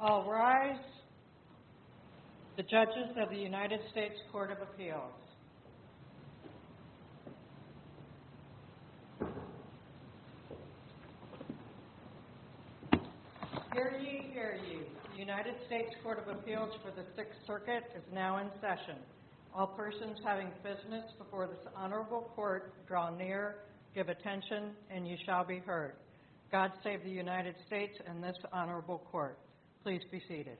All rise. The judges of the United States Court of Appeals. Hear ye, hear ye. The United States Court of Appeals for the Sixth Circuit is now in session. All persons having business before this honorable court draw near, give attention, and you shall be heard. God save the United States and this honorable court. Please be seated.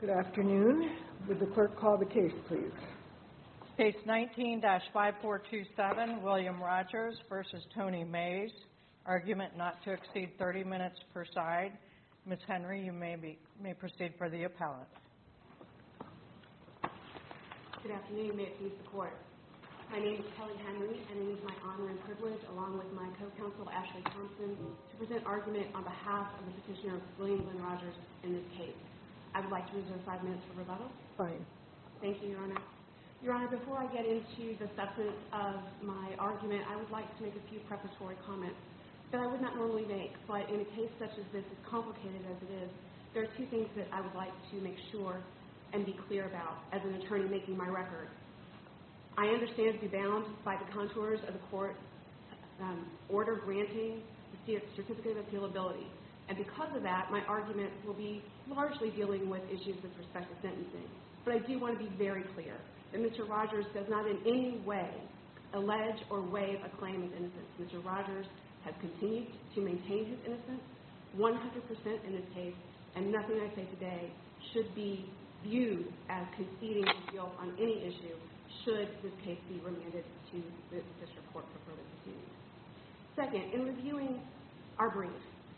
Good afternoon. Would the clerk call the case, please? Case 19-5427, William Rogers v. Tony Mays. Argument not to exceed 30 minutes per side. Ms. Henry, you may proceed for the appellate. Good afternoon. May it please the court. My name is Kelly Henry, and it is my honor and privilege, along with my co-counsel, Ashley Thompson, to present argument on behalf of the petitioner, William Glenn Rogers, in this case. I would like to reserve five minutes for rebuttal. Right. Thank you, Your Honor. Your Honor, before I get into the substance of my argument, I would like to make a few preparatory comments that I would not normally make. But in a case such as this, as complicated as it is, there are two things that I would like to make sure and be clear about as an attorney making my record. I understand to be bound by the contours of the court order granting the statistical appealability. And because of that, my argument will be largely dealing with issues of perspective sentencing. But I do want to be very clear that Mr. Rogers does not in any way allege or waive a claim of innocence. Mr. Rogers has continued to maintain his innocence 100% in this case, and nothing I say today should be viewed as conceding guilt on any issue should this case be remanded to the district court for further proceedings. Second, in reviewing our brief,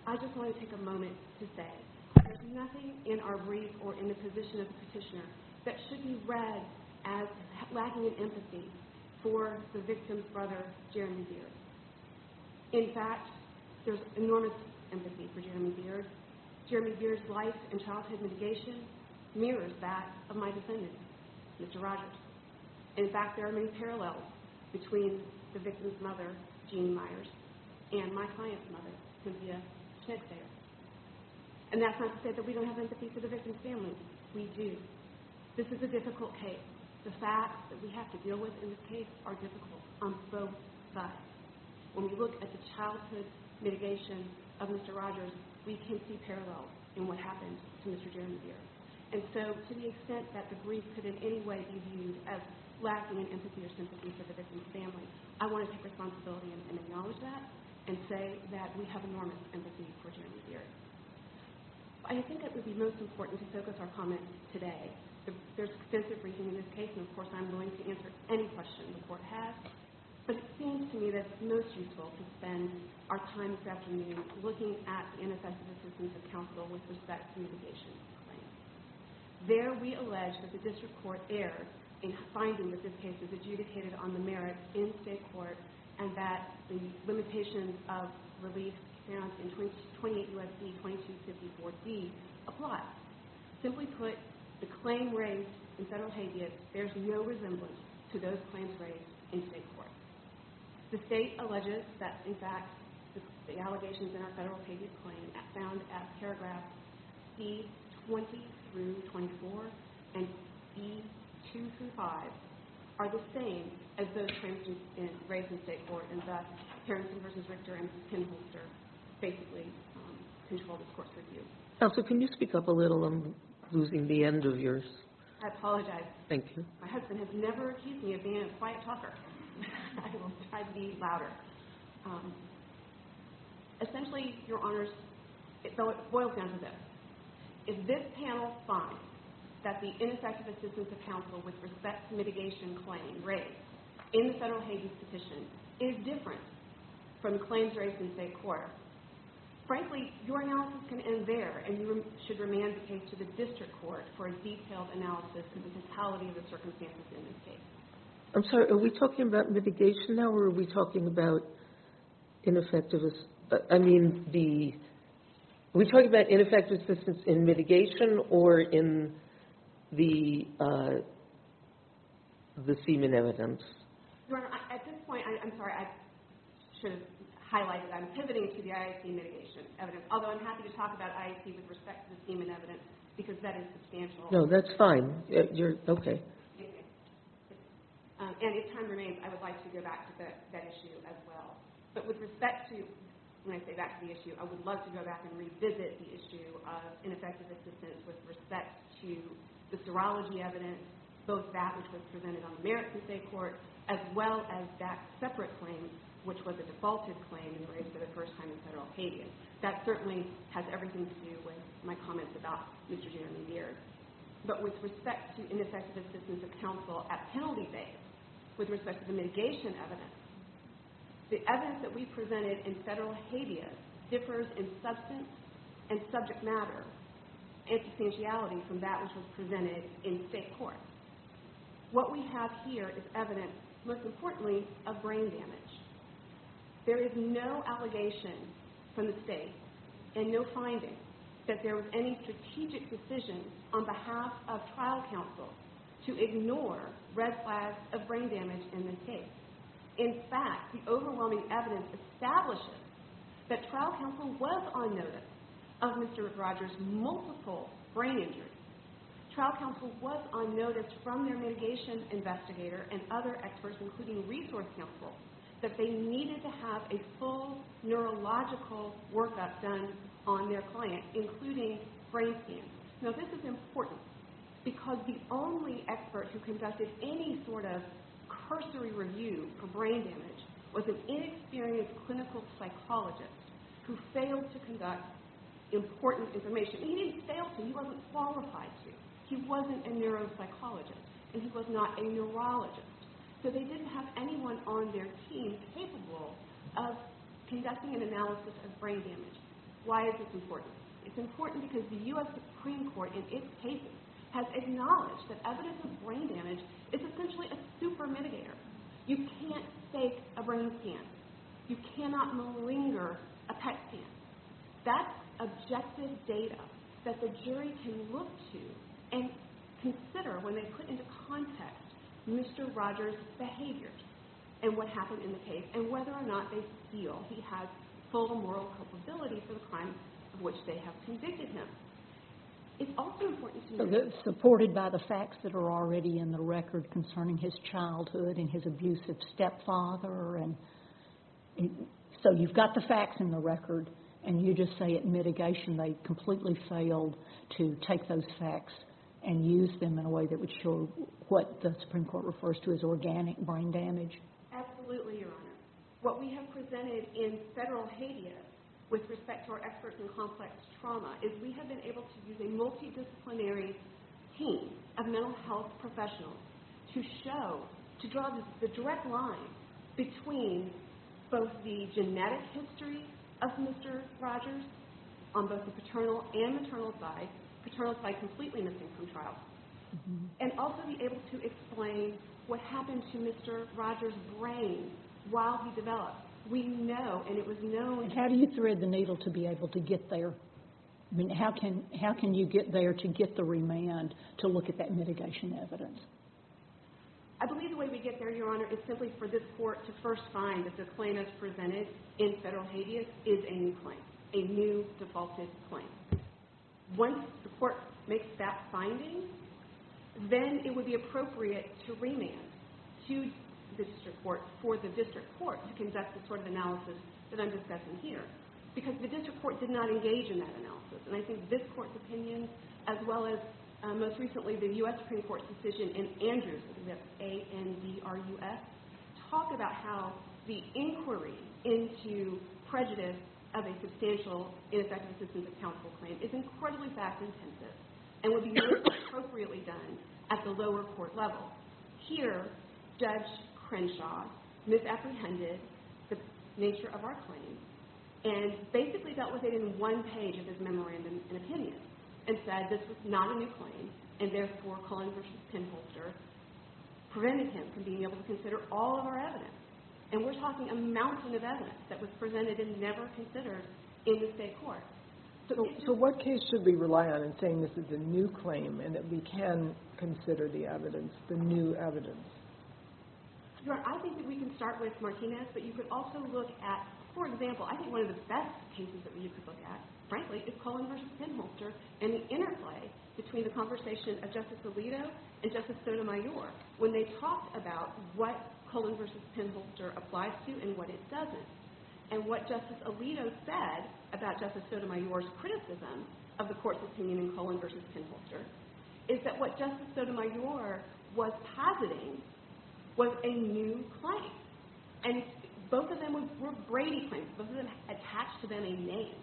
I just want to take a moment to say there's nothing in our brief or in the position of the petitioner that should be read as lacking in empathy for the victim's brother, Jeremy Beard. In fact, there's enormous empathy for Jeremy Beard. Jeremy Beard's life and childhood mitigation mirrors that of my defendant, Mr. Rogers. In fact, there are many parallels between the victim's mother, Jeannie Myers, and my client's mother, Cynthia Knicksayer. And that's not to say that we don't have empathy for the victim's family. We do. This is a difficult case. The facts that we have to deal with in this case are difficult on both sides. When we look at the childhood mitigation of Mr. Rogers, we can see parallels in what happened to Mr. Jeremy Beard. And so to the extent that the brief could in any way be viewed as lacking in empathy or sympathy for the victim's family, I want to take responsibility and acknowledge that and say that we have enormous empathy for Jeremy Beard. I think it would be most important to focus our comments today. There's extensive briefing in this case, and of course I'm willing to answer any questions the court has. But it seems to me that it's most useful to spend our time this afternoon looking at the ineffective assistance of counsel with respect to mitigation claims. There, we allege that the district court erred in finding that this case is adjudicated on the merits in state court and that the limitations of relief found in 28 U.S.C. 2254D apply. Simply put, the claim raised in federal habeas bears no resemblance to those claims raised in state court. The state alleges that, in fact, the allegations in our federal habeas claim found at paragraphs B20-24 and B2-5 are the same as those claims raised in state court. And thus, Harrison v. Richter and Penholster basically control this court's review. Counsel, can you speak up a little? I'm losing the end of yours. I apologize. Thank you. My husband has never accused me of being a quiet talker. I will try to be louder. Essentially, Your Honors, it boils down to this. If this panel finds that the ineffective assistance of counsel with respect to mitigation claims raised in the federal habeas petition is different from the claims raised in state court, frankly, your analysis can end there, and you should remand the case to the district court for a detailed analysis of the totality of the circumstances in this case. I'm sorry. Are we talking about mitigation now, or are we talking about ineffective assistance? I mean, are we talking about ineffective assistance in mitigation or in the semen evidence? Your Honor, at this point, I'm sorry, I should have highlighted I'm pivoting to the IAC mitigation evidence, although I'm happy to talk about IAC with respect to the semen evidence because that is substantial. No, that's fine. Okay. And if time remains, I would like to go back to that issue as well. But with respect to, when I say back to the issue, I would love to go back and revisit the issue of ineffective assistance with respect to the serology evidence, both that which was presented on the merits of state court, as well as that separate claim, which was a defaulted claim raised for the first time in federal habeas. That certainly has everything to do with my comments about Mr. Jeremy Mears. But with respect to ineffective assistance of counsel at penalty base, with respect to the mitigation evidence, the evidence that we presented in federal habeas differs in substance and subject matter and substantiality from that which was presented in state court. What we have here is evidence, most importantly, of brain damage. There is no allegation from the state and no finding that there was any strategic decision on behalf of trial counsel to ignore red flags of brain damage in this case. In fact, the overwhelming evidence establishes that trial counsel was on notice of Mr. Rogers' multiple brain injuries. Trial counsel was on notice from their mitigation investigator and other experts, including resource counsel, that they needed to have a full neurological workup done on their client, including brain scans. Now this is important because the only expert who conducted any sort of cursory review for brain damage was an inexperienced clinical psychologist who failed to conduct important information. He didn't fail to, he wasn't qualified to. He wasn't a neuropsychologist and he was not a neurologist. So they didn't have anyone on their team capable of conducting an analysis of brain damage. Why is this important? It's important because the U.S. Supreme Court, in its cases, has acknowledged that evidence of brain damage is essentially a super mitigator. You can't fake a brain scan. You cannot malinger a PET scan. That's objective data that the jury can look to and consider when they put into context Mr. Rogers' behavior and what happened in the case and whether or not they feel he has full moral culpability for the crime of which they have convicted him. Supported by the facts that are already in the record concerning his childhood and his abusive stepfather. So you've got the facts in the record and you just say at mitigation they completely failed to take those facts and use them in a way that would show what the Supreme Court refers to as organic brain damage. Absolutely, Your Honor. What we have presented in federal habeas with respect to our experts in complex trauma is we have been able to use a multidisciplinary team of mental health professionals to show, to draw the direct line between both the genetic history of Mr. Rogers on both the paternal and maternal side. And also be able to explain what happened to Mr. Rogers' brain while he developed. We know and it was known. How do you thread the needle to be able to get there? I mean, how can you get there to get the remand to look at that mitigation evidence? I believe the way we get there, Your Honor, is simply for this court to first find that the claim as presented in federal habeas is a new claim, a new defaulted claim. Once the court makes that finding, then it would be appropriate to remand to the district court for the district court to conduct the sort of analysis that I'm discussing here. Because the district court did not engage in that analysis. And I think this court's opinion, as well as most recently the U.S. Supreme Court's decision in Andrews, A-N-D-R-U-S, talk about how the inquiry into prejudice of a substantial ineffective assistance of counsel claim is incredibly fact-intensive and would be most appropriately done at the lower court level. Here, Judge Crenshaw misapprehended the nature of our claim and basically dealt with it in one page of his memorandum of opinion and said this was not a new claim. And therefore, Cullen v. Penholster prevented him from being able to consider all of our evidence. And we're talking a mountain of evidence that was presented and never considered in the state court. So what case should we rely on in saying this is a new claim and that we can consider the evidence, the new evidence? Your Honor, I think that we can start with Martinez. But you could also look at, for example, I think one of the best cases that you could look at, frankly, is Cullen v. Penholster and the interplay between the conversation of Justice Alito and Justice Sotomayor when they talked about what Cullen v. Penholster applies to and what it doesn't. And what Justice Alito said about Justice Sotomayor's criticism of the court's opinion in Cullen v. Penholster is that what Justice Sotomayor was positing was a new claim. And both of them were Brady claims. Both of them attached to them a name.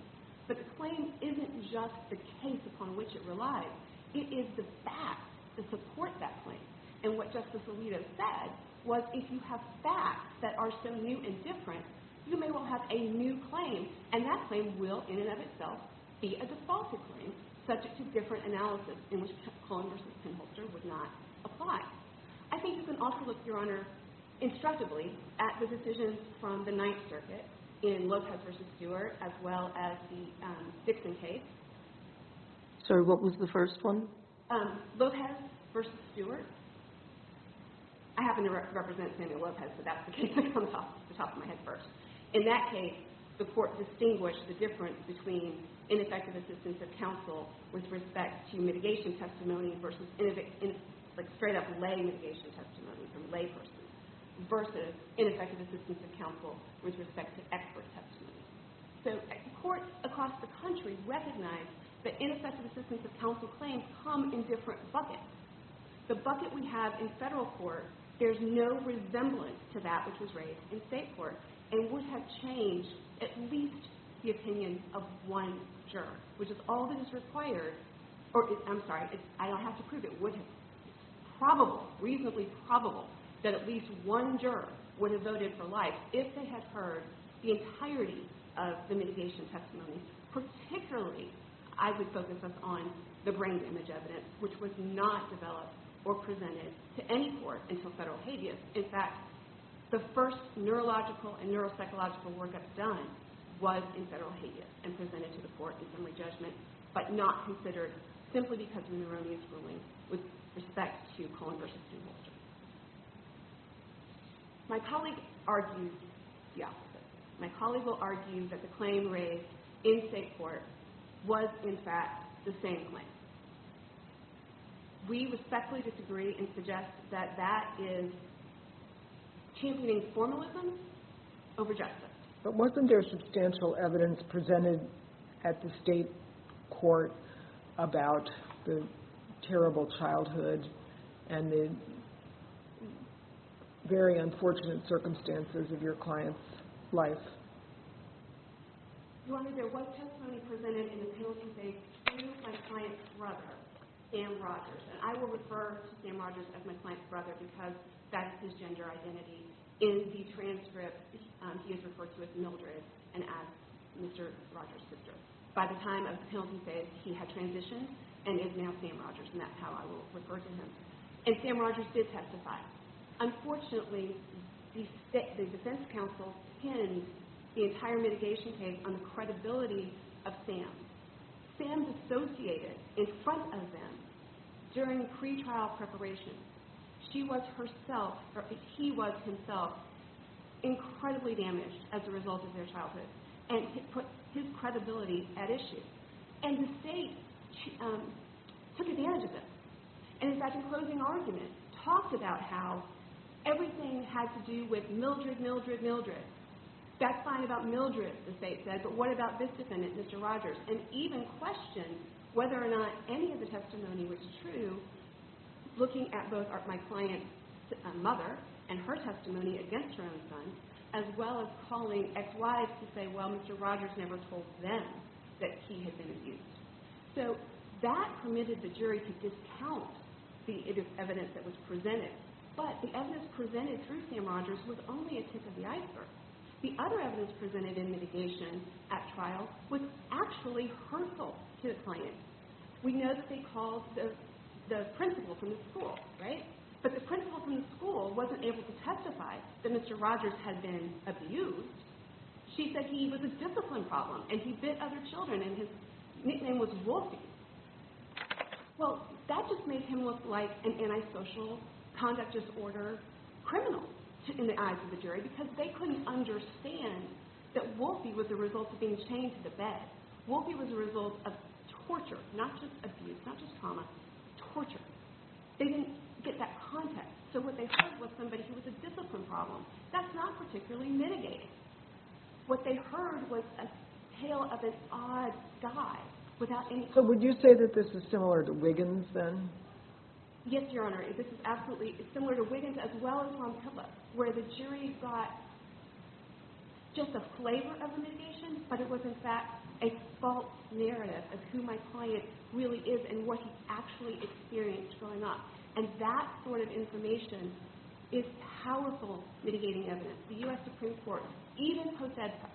But the claim isn't just the case upon which it relies. It is the facts that support that claim. And what Justice Alito said was if you have facts that are so new and different, you may well have a new claim. And that claim will, in and of itself, be a defaulted claim subject to different analysis in which Cullen v. Penholster would not apply. I think you can also look, Your Honor, instructively at the decisions from the Ninth Circuit in Lopez v. Stewart as well as the Dixon case. Sir, what was the first one? Lopez v. Stewart. I happen to represent Samuel Lopez, so that's the case that comes off the top of my head first. In that case, the court distinguished the difference between ineffective assistance of counsel with respect to mitigation testimony versus straight-up lay mitigation testimony from lay persons versus ineffective assistance of counsel with respect to expert testimony. So courts across the country recognize that ineffective assistance of counsel claims come in different buckets. The bucket we have in federal court, there's no resemblance to that which was raised in state court and would have changed at least the opinions of one juror, which is all that is required. I'm sorry, I don't have to prove it. It would have been probably, reasonably probable, that at least one juror would have voted for life if they had heard the entirety of the mitigation testimony. Particularly, I would focus us on the brain image evidence, which was not developed or presented to any court until federal habeas. In fact, the first neurological and neuropsychological workup done was in federal habeas and presented to the court in summary judgment, but not considered simply because of Neuronia's ruling with respect to Cohen v. Mulder. My colleague argues the opposite. My colleague will argue that the claim raised in state court was, in fact, the same claim. We respectfully disagree and suggest that that is championing formalism over justice. But wasn't there substantial evidence presented at the state court about the terrible childhood and the very unfortunate circumstances of your client's life? Your Honor, there was testimony presented in the penalty phase to my client's brother, Sam Rogers. And I will refer to Sam Rogers as my client's brother because that's his gender identity. In the transcript, he is referred to as Mildred and as Mr. Rogers' sister. By the time of the penalty phase, he had transitioned and is now Sam Rogers, and that's how I will refer to him. And Sam Rogers did testify. Unfortunately, the defense counsel pinned the entire mitigation case on the credibility of Sam. Sam dissociated in front of them during pretrial preparation. She was herself, or he was himself, incredibly damaged as a result of their childhood and put his credibility at issue. And the state took advantage of this. And in fact, the closing argument talks about how everything has to do with Mildred, Mildred, Mildred. That's fine about Mildred, the state says, but what about this defendant, Mr. Rogers? And even questioned whether or not any of the testimony was true, looking at both my client's mother and her testimony against her own son, as well as calling ex-wives to say, well, Mr. Rogers never told them that he had been abused. So that permitted the jury to discount the evidence that was presented. But the evidence presented through Sam Rogers was only a tip of the iceberg. The other evidence presented in mitigation at trial was actually hurtful to the client. We know that they called the principal from the school, right? But the principal from the school wasn't able to testify that Mr. Rogers had been abused. She said he was a discipline problem and he bit other children and his nickname was Wolfie. Well, that just made him look like an antisocial, conduct disorder criminal in the eyes of the jury because they couldn't understand that Wolfie was the result of being chained to the bed. Wolfie was the result of torture, not just abuse, not just trauma, torture. They didn't get that context. So what they heard was somebody who was a discipline problem. That's not particularly mitigating. What they heard was a tale of this odd guy without any— So would you say that this is similar to Wiggins, then? Yes, Your Honor. This is absolutely similar to Wiggins as well as from Phillips, where the jury got just a flavor of the mitigation, but it was, in fact, a false narrative of who my client really is and what he's actually experienced growing up. And that sort of information is powerful mitigating evidence. The U.S. Supreme Court, even post-EDSA,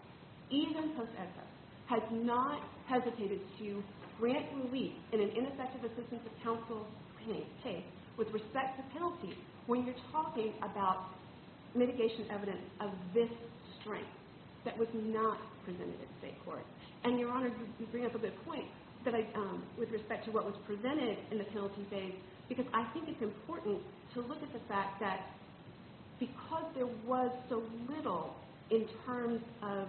even post-EDSA, has not hesitated to grant relief in an ineffective assistance of counsel case with respect to penalty when you're talking about mitigation evidence of this strength that was not presented in state court. And, Your Honor, you bring up a good point with respect to what was presented in the penalty phase because I think it's important to look at the fact that because there was so little in terms of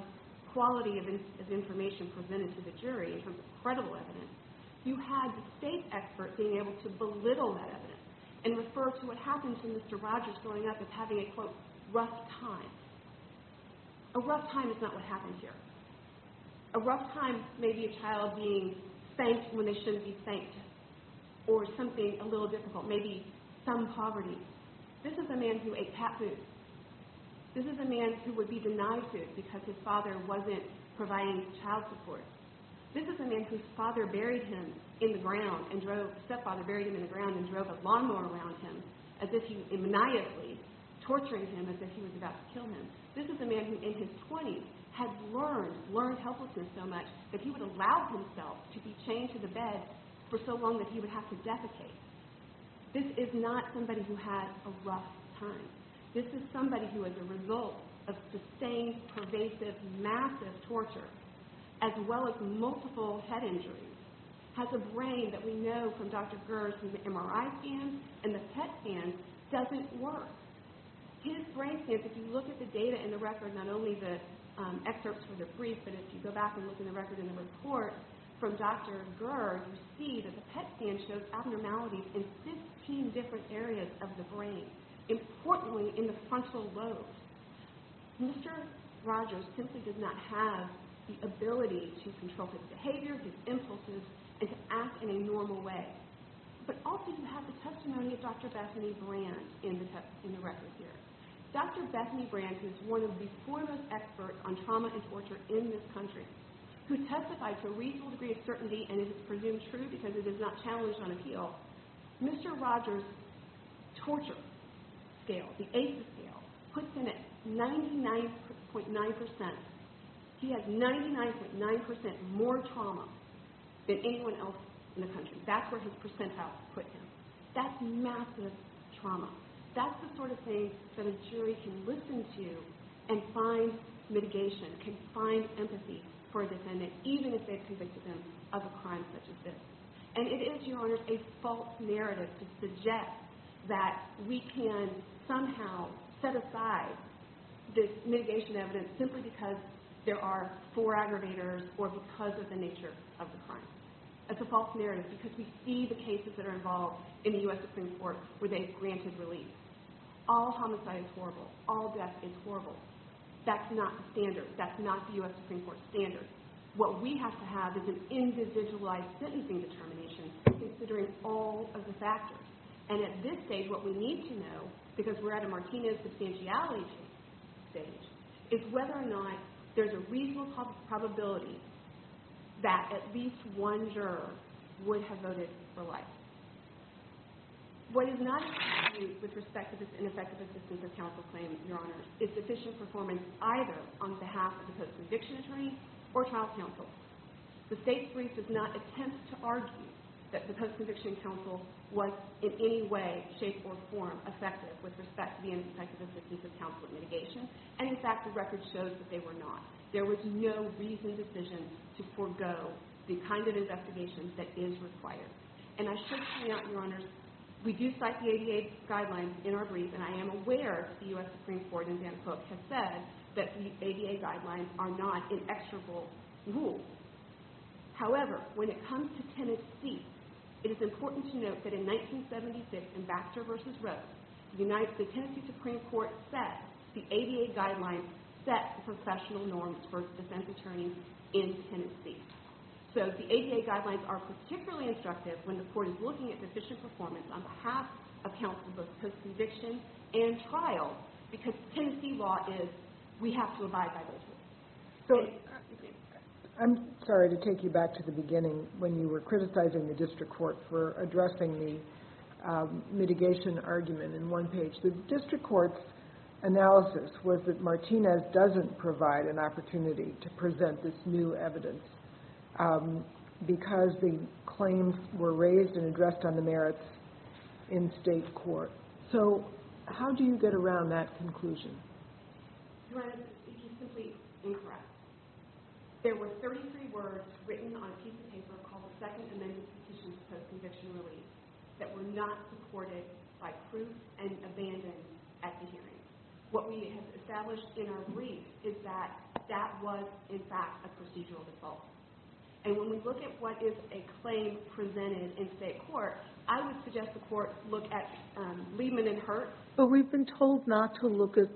quality of information presented to the jury in terms of credible evidence, you had the state expert being able to belittle that evidence and refer to what happened to Mr. Rogers growing up as having a, quote, rough time. A rough time is not what happened here. A rough time may be a child being thanked when they shouldn't be thanked or something a little difficult, maybe some poverty. This is a man who ate cat food. This is a man who would be denied food because his father wasn't providing child support. This is a man whose stepfather buried him in the ground and drove a lawnmower around him as if he was maniacally torturing him as if he was about to kill him. This is a man who, in his 20s, had learned helplessness so much that he would allow himself to be chained to the bed for so long that he would have to defecate. This is not somebody who had a rough time. This is somebody who, as a result of sustained, pervasive, massive torture, as well as multiple head injuries, has a brain that we know from Dr. Gerr's MRI scan and the PET scan doesn't work. His brain scans, if you look at the data in the record, not only the excerpts from the brief, but if you go back and look in the record in the report from Dr. Gerr, you see that the PET scan shows abnormalities in 15 different areas of the brain, importantly in the frontal lobe. Mr. Rogers simply does not have the ability to control his behavior, his impulses, and to act in a normal way. But also you have the testimony of Dr. Bethany Brand in the record here. Dr. Bethany Brand, who is one of the foremost experts on trauma and torture in this country, who testified to a reasonable degree of certainty, and it is presumed true because it is not challenged on appeal, Mr. Rogers' torture scale, the ACE scale, puts him at 99.9%. He has 99.9% more trauma than anyone else in the country. That's where his percentile puts him. That's massive trauma. That's the sort of thing that a jury can listen to and find mitigation, can find empathy for a defendant, even if they've convicted them of a crime such as this. And it is, Your Honor, a false narrative to suggest that we can somehow set aside this mitigation evidence simply because there are four aggravators or because of the nature of the crime. It's a false narrative because we see the cases that are involved in the U.S. Supreme Court where they've granted relief. All homicide is horrible. All death is horrible. That's not the standard. That's not the U.S. Supreme Court standard. What we have to have is an individualized sentencing determination considering all of the factors. And at this stage, what we need to know, because we're at a Martinez substantiality stage, is whether or not there's a reasonable probability that at least one juror would have voted for life. What is not in dispute with respect to this ineffective assistance of counsel claim, Your Honor, is sufficient performance either on behalf of the post-conviction attorney or trial counsel. The state's brief does not attempt to argue that the post-conviction counsel was in any way, shape, or form effective with respect to the ineffective assistance of counsel in mitigation. And, in fact, the record shows that they were not. There was no reasoned decision to forego the kind of investigation that is required. And I should point out, Your Honor, we do cite the ADA guidelines in our brief, and I am aware that the U.S. Supreme Court in Vancouver has said that the ADA guidelines are not inexorable rules. However, when it comes to Tennessee, it is important to note that in 1976, Ambassador v. Rose, the Tennessee Supreme Court said the ADA guidelines set the professional norms for defense attorneys in Tennessee. So the ADA guidelines are particularly instructive when the court is looking at deficient performance on behalf of counsel, both post-conviction and trial, because Tennessee law is, we have to abide by those rules. I'm sorry to take you back to the beginning when you were criticizing the district court for addressing the mitigation argument in one page. The district court's analysis was that Martinez doesn't provide an opportunity to present this new evidence because the claims were raised and addressed on the merits in state court. So how do you get around that conclusion? Your Honor, it is simply incorrect. There were 33 words written on a piece of paper called the Second Amendment Petitions Post-Conviction Relief that were not supported by proof and abandoned at the hearing. What we have established in our brief is that that was, in fact, a procedural default. And when we look at what is a claim presented in state court, I would suggest the court look at Leibman and Hurt. But we've been told not to look at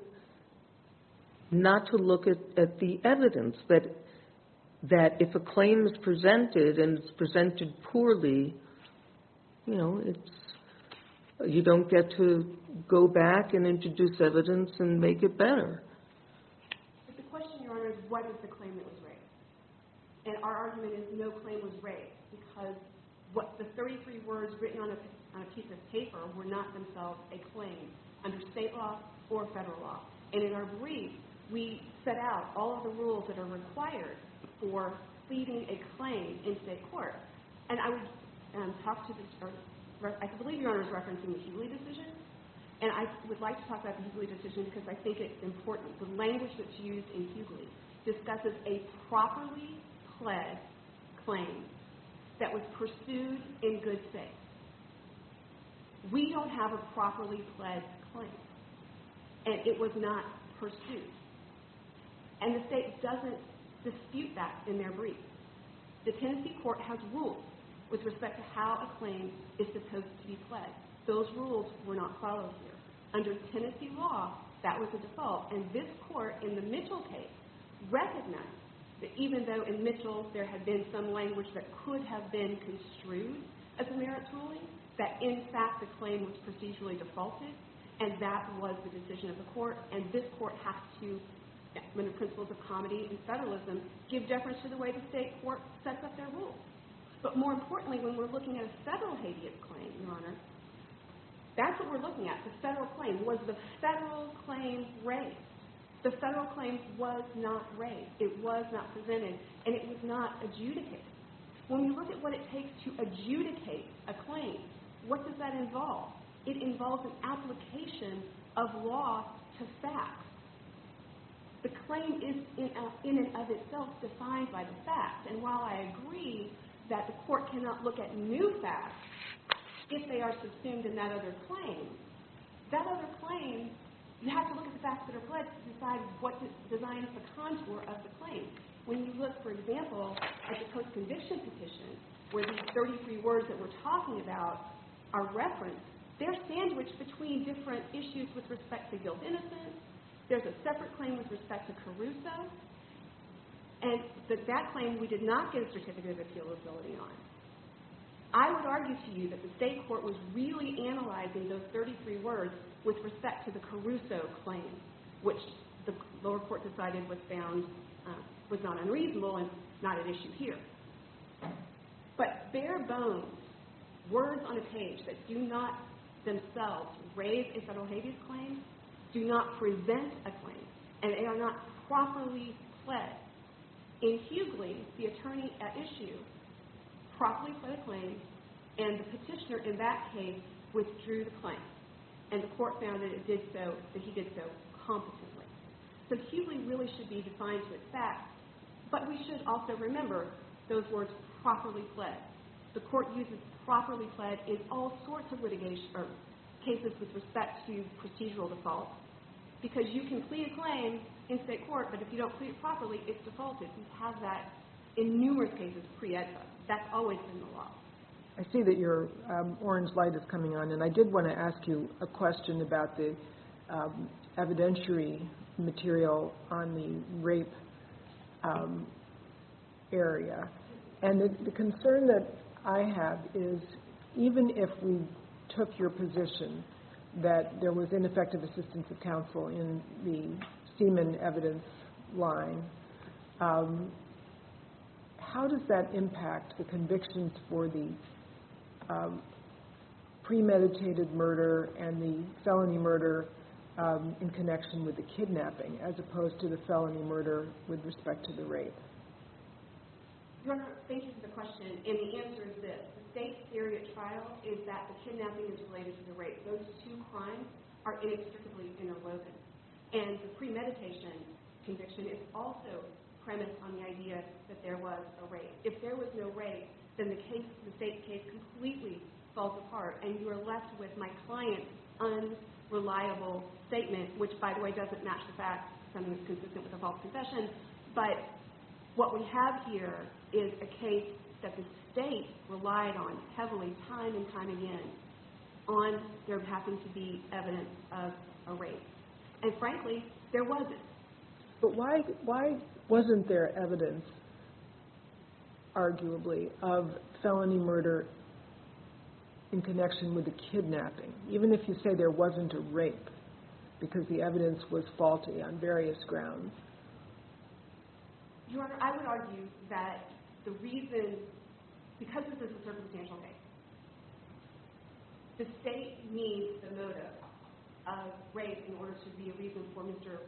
the evidence, that if a claim is presented and it's presented poorly, you don't get to go back and introduce evidence and make it better. But the question, Your Honor, is what is the claim that was raised? And our argument is no claim was raised because the 33 words written on a piece of paper were not themselves a claim under state law or federal law. And in our brief, we set out all of the rules that are required for pleading a claim in state court. And I believe Your Honor is referencing the Hughley decision, and I would like to talk about the Hughley decision because I think it's important. The language that's used in Hughley discusses a properly pled claim that was pursued in good faith. We don't have a properly pled claim, and it was not pursued. And the state doesn't dispute that in their brief. The Tennessee court has rules with respect to how a claim is supposed to be pled. Those rules were not followed here. Under Tennessee law, that was a default. And this court in the Mitchell case recognized that even though in Mitchell there had been some language that could have been construed as a merits ruling, that in fact the claim was procedurally defaulted, and that was the decision of the court. And this court has to, under the principles of comedy and federalism, give deference to the way the state court sets up their rules. But more importantly, when we're looking at a federal habeas claim, Your Honor, that's what we're looking at. The federal claim. Was the federal claim raised? The federal claim was not raised. It was not presented. And it was not adjudicated. When you look at what it takes to adjudicate a claim, what does that involve? It involves an application of law to fact. The claim is in and of itself defined by the fact. And while I agree that the court cannot look at new facts if they are subsumed in that other claim, that other claim, you have to look at the facts that are pledged to decide what designs the contour of the claim. When you look, for example, at the post-conviction petition, where these 33 words that we're talking about are referenced, they're sandwiched between different issues with respect to guilt-innocent. There's a separate claim with respect to Caruso. And that claim, we did not get a certificate of appealability on. I would argue to you that the state court was really analyzing those 33 words with respect to the Caruso claim, which the lower court decided was not unreasonable and not at issue here. But bare bones, words on a page that do not themselves raise a federal habeas claim, do not present a claim, and they are not properly pled. In Hughley, the attorney at issue properly pled a claim, and the petitioner in that case withdrew the claim. And the court found that it did so, that he did so competently. So Hughley really should be defined with facts, but we should also remember those words properly pled. The court uses properly pled in all sorts of litigation cases with respect to procedural defaults, because you can plead a claim in state court, but if you don't plead it properly, it's defaulted. We have that in numerous cases pre-edited. That's always been the law. I see that your orange light is coming on, and I did want to ask you a question about the evidentiary material on the rape area. And the concern that I have is even if we took your position that there was ineffective assistance of counsel in the semen evidence line, how does that impact the convictions for the premeditated murder and the felony murder in connection with the kidnapping, as opposed to the felony murder with respect to the rape? Your Honor, thank you for the question. And the answer is this. The state's theory at trial is that the kidnapping is related to the rape. Those two crimes are inextricably interwoven. And the premeditation conviction is also premised on the idea that there was a rape. If there was no rape, then the state's case completely falls apart, and you are left with my client's unreliable statement, which, by the way, doesn't match the fact that something is consistent with a false confession. But what we have here is a case that the state relied on heavily time and time again on there having to be evidence of a rape. And frankly, there wasn't. But why wasn't there evidence, arguably, of felony murder in connection with the kidnapping, even if you say there wasn't a rape, because the evidence was faulty on various grounds? Your Honor, I would argue that the reason, because this is a circumstantial case, the state needs the motive of rape in order to be a reason for Mr.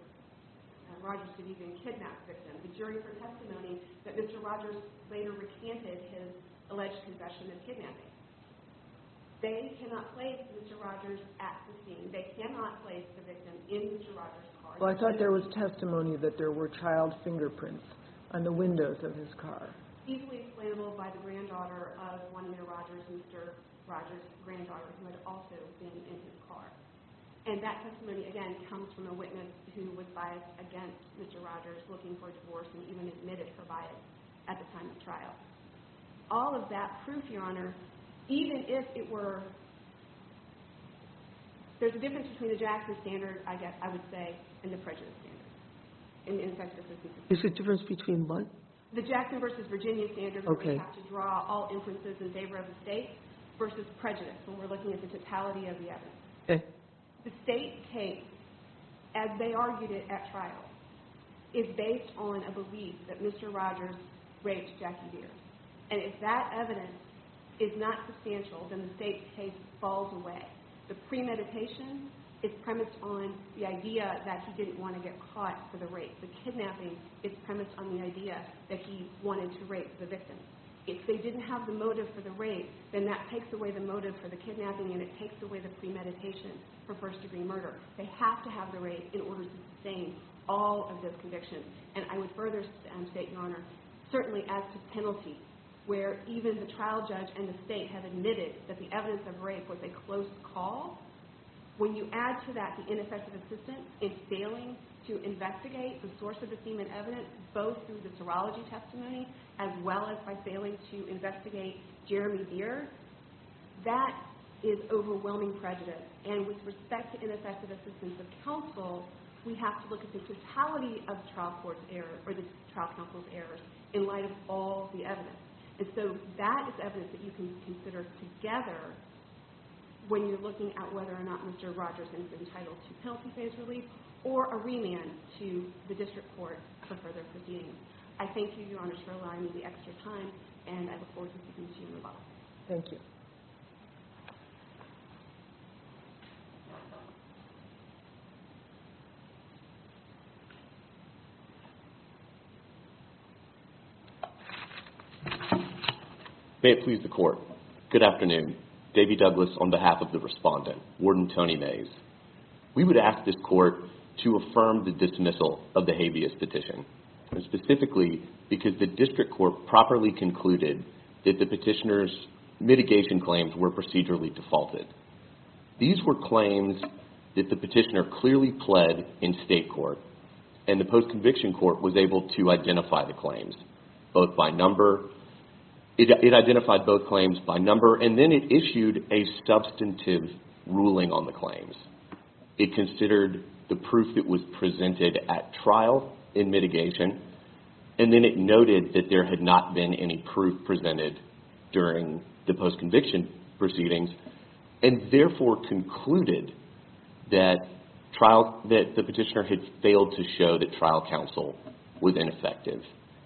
Rogers to even kidnap the victim. The jury heard testimony that Mr. Rogers later recanted his alleged confession of kidnapping. They cannot place Mr. Rogers at the scene. They cannot place the victim in Mr. Rogers' car. Well, I thought there was testimony that there were child fingerprints on the windows of his car. Easily explainable by the granddaughter of one of Mr. Rogers' granddaughters, who had also been in his car. And that testimony, again, comes from a witness who was biased against Mr. Rogers looking for a divorce and even admitted for bias at the time of trial. All of that proof, Your Honor, even if it were... There's a difference between the Jackson standard, I guess I would say, and the prejudice standard. There's a difference between what? The Jackson versus Virginia standard, where we have to draw all inferences in favor of the state, versus prejudice, when we're looking at the totality of the evidence. The state case, as they argued it at trial, is based on a belief that Mr. Rogers raped Jackie Deer. And if that evidence is not substantial, then the state case falls away. The premeditation is premised on the idea that he didn't want to get caught for the rape. The kidnapping is premised on the idea that he wanted to rape the victim. If they didn't have the motive for the rape, then that takes away the motive for the kidnapping and it takes away the premeditation for first-degree murder. They have to have the rape in order to sustain all of those convictions. And I would further state, Your Honor, certainly as to penalty, where even the trial judge and the state have admitted that the evidence of rape was a close call, when you add to that the ineffective assistance in failing to investigate the source of the semen evidence, both through the serology testimony, as well as by failing to investigate Jeremy Deer, that is overwhelming prejudice. And with respect to ineffective assistance of counsel, we have to look at the totality of the trial counsel's errors in light of all the evidence. And so that is evidence that you can consider together when you're looking at whether or not Mr. Rogerson is entitled to penalty phase relief or a remand to the district court for further proceeding. I thank you, Your Honor, for allowing me the extra time and I look forward to seeing you move on. Thank you. May it please the court. Good afternoon. Davey Douglas on behalf of the respondent, Warden Tony Mays. We would ask this court to affirm the dismissal of the habeas petition, specifically because the district court properly concluded that the petitioner's mitigation claims were procedurally defaulted. These were claims that the petitioner clearly pled in state court and the post-conviction court was able to identify the claims, both by number. It identified both claims by number and then it issued a substantive ruling on the claims. It considered the proof that was presented at trial in mitigation and then it noted that there had not been any proof presented during the post-conviction proceedings and therefore concluded that the petitioner had failed to show that trial counsel was ineffective.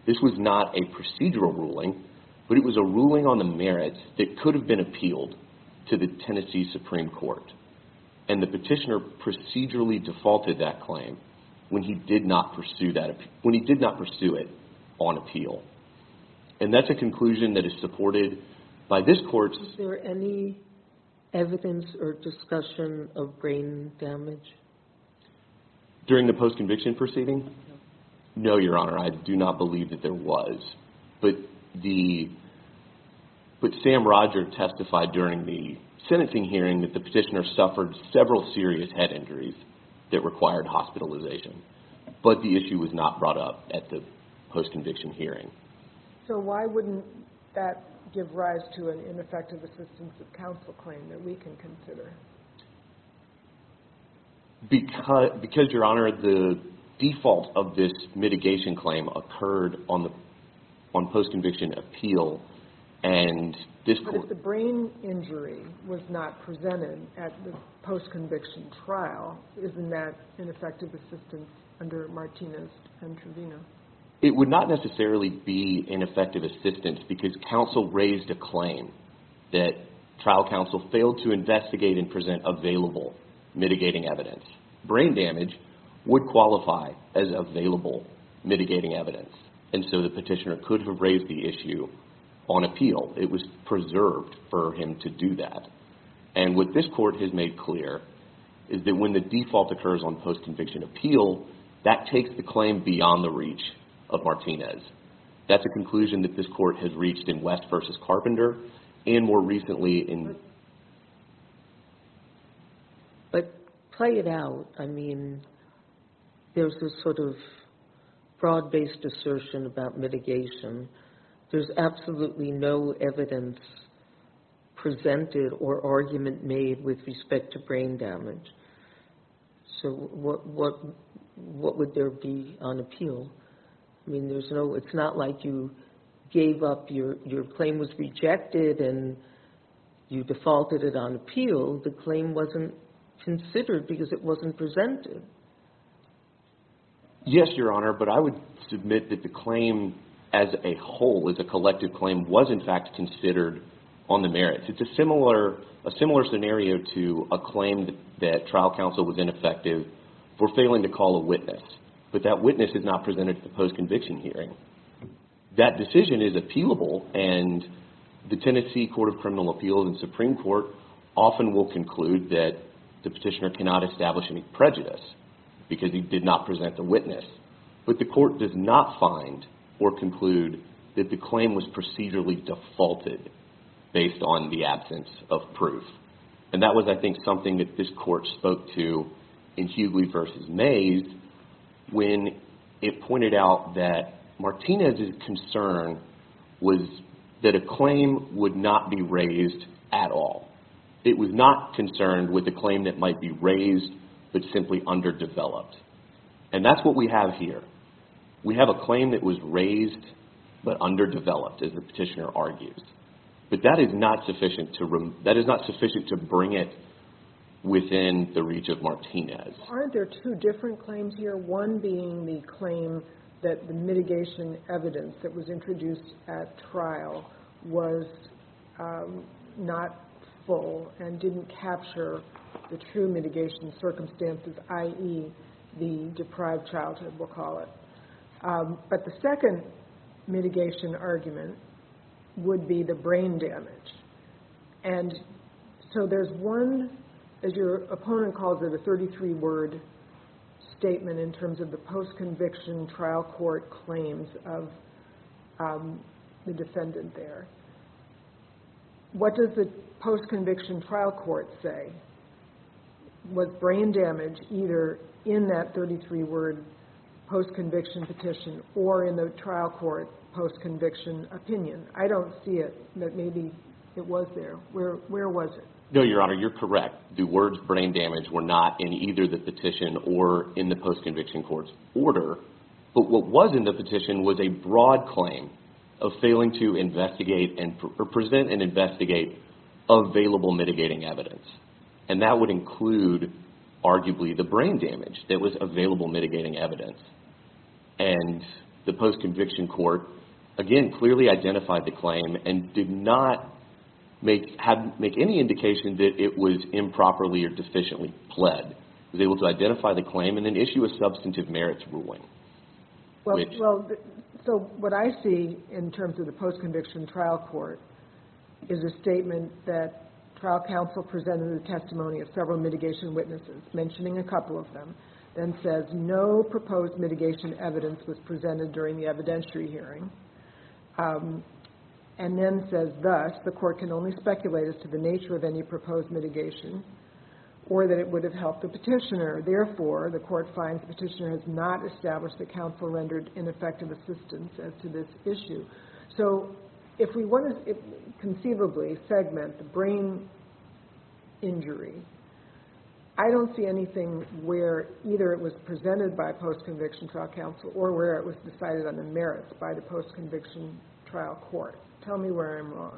This was not a procedural ruling, but it was a ruling on the merits that could have been appealed to the Tennessee Supreme Court and the petitioner procedurally defaulted that claim when he did not pursue it on appeal. And that's a conclusion that is supported by this court. Is there any evidence or discussion of brain damage? During the post-conviction proceedings? No, Your Honor. I do not believe that there was, but Sam Roger testified during the sentencing hearing that the petitioner suffered several serious head injuries that required hospitalization, but the issue was not brought up at the post-conviction hearing. So why wouldn't that give rise to an ineffective assistance of counsel claim that we can consider? Because, Your Honor, the default of this mitigation claim occurred on post-conviction appeal and this court... But if the brain injury was not presented at the post-conviction trial, isn't that ineffective assistance under Martinez and Trevino? It would not necessarily be ineffective assistance because counsel raised a claim that trial counsel failed to investigate and present available mitigating evidence. Brain damage would qualify as available mitigating evidence, and so the petitioner could have raised the issue on appeal. It was preserved for him to do that. And what this court has made clear is that when the default occurs on post-conviction appeal, that takes the claim beyond the reach of Martinez. That's a conclusion that this court has reached in West v. Carpenter and more recently in... But play it out. I mean, there's this sort of broad-based assertion about mitigation. There's absolutely no evidence presented or argument made with respect to brain damage. So what would there be on appeal? I mean, it's not like you gave up, your claim was rejected and you defaulted it on appeal. The claim wasn't considered because it wasn't presented. Yes, Your Honor, but I would submit that the claim as a whole, as a collective claim, was in fact considered on the merits. It's a similar scenario to a claim that trial counsel was ineffective for failing to call a witness, but that witness is not presented at the post-conviction hearing. That decision is appealable, and the Tennessee Court of Criminal Appeals and Supreme Court often will conclude that the petitioner cannot establish any prejudice because he did not present the witness. But the court does not find or conclude that the claim was procedurally defaulted based on the absence of proof. And that was, I think, something that this court spoke to in Hughley v. Mays when it pointed out that Martinez's concern was that a claim would not be raised at all. It was not concerned with a claim that might be raised, but simply underdeveloped. And that's what we have here. We have a claim that was raised, but underdeveloped, as the petitioner argues. But that is not sufficient to bring it within the reach of Martinez. Aren't there two different claims here? One being the claim that the mitigation evidence that was introduced at trial was not full and didn't capture the true mitigation circumstances, i.e., the deprived childhood, we'll call it. But the second mitigation argument would be the brain damage. And so there's one, as your opponent calls it, a 33-word statement in terms of the post-conviction trial court claims of the defendant there. What does the post-conviction trial court say? Was brain damage either in that 33-word post-conviction petition or in the trial court post-conviction opinion? I don't see it, but maybe it was there. Where was it? No, Your Honor, you're correct. The words brain damage were not in either the petition or in the post-conviction court's order. But what was in the petition was a broad claim of failing to present and investigate available mitigating evidence. And that would include, arguably, the brain damage that was available mitigating evidence. And the post-conviction court, again, clearly identified the claim and did not make any indication that it was improperly or deficiently pled. It was able to identify the claim and then issue a substantive merits ruling. So what I see in terms of the post-conviction trial court is a statement that trial counsel presented in the testimony of several mitigation witnesses, mentioning a couple of them, then says, no proposed mitigation evidence was presented during the evidentiary hearing. And then says, thus, the court can only speculate as to the nature of any proposed mitigation or that it would have helped the petitioner. Therefore, the court finds the petitioner has not established that counsel rendered ineffective assistance as to this issue. So if we want to conceivably segment the brain injury, I don't see anything where either it was presented by post-conviction trial counsel or where it was decided on the merits by the post-conviction trial court. Tell me where I'm wrong.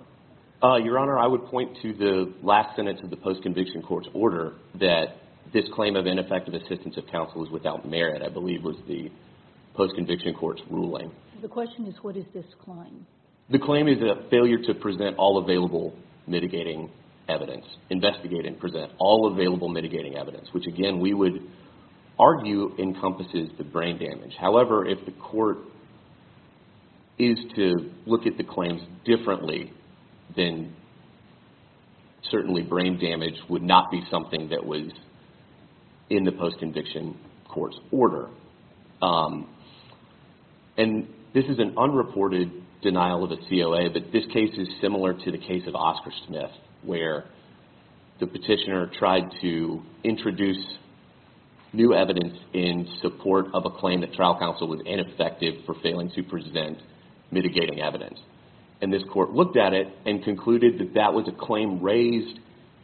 Your Honor, I would point to the last sentence of the post-conviction court's order that this claim of ineffective assistance of counsel is without merit, I believe, was the post-conviction court's ruling. The question is, what is this claim? The claim is a failure to present all available mitigating evidence, investigate and present all available mitigating evidence, which, again, we would argue encompasses the brain damage. However, if the court is to look at the claims differently, then certainly brain damage would not be something that was in the post-conviction court's order. And this is an unreported denial of a COA, but this case is similar to the case of Oscar Smith where the petitioner tried to introduce new evidence in support of a claim that trial counsel was ineffective for failing to present mitigating evidence. And this court looked at it and concluded that that was a claim raised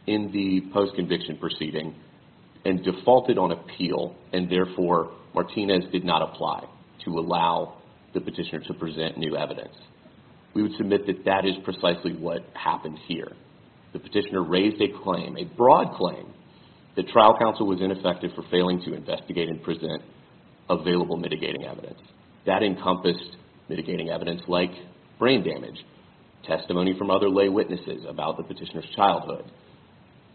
in the post-conviction proceeding and defaulted on appeal. And therefore, Martinez did not apply to allow the petitioner to present new evidence. We would submit that that is precisely what happened here. The petitioner raised a claim, a broad claim, that trial counsel was ineffective for failing to investigate and present available mitigating evidence. That encompassed mitigating evidence like brain damage, testimony from other lay witnesses about the petitioner's childhood.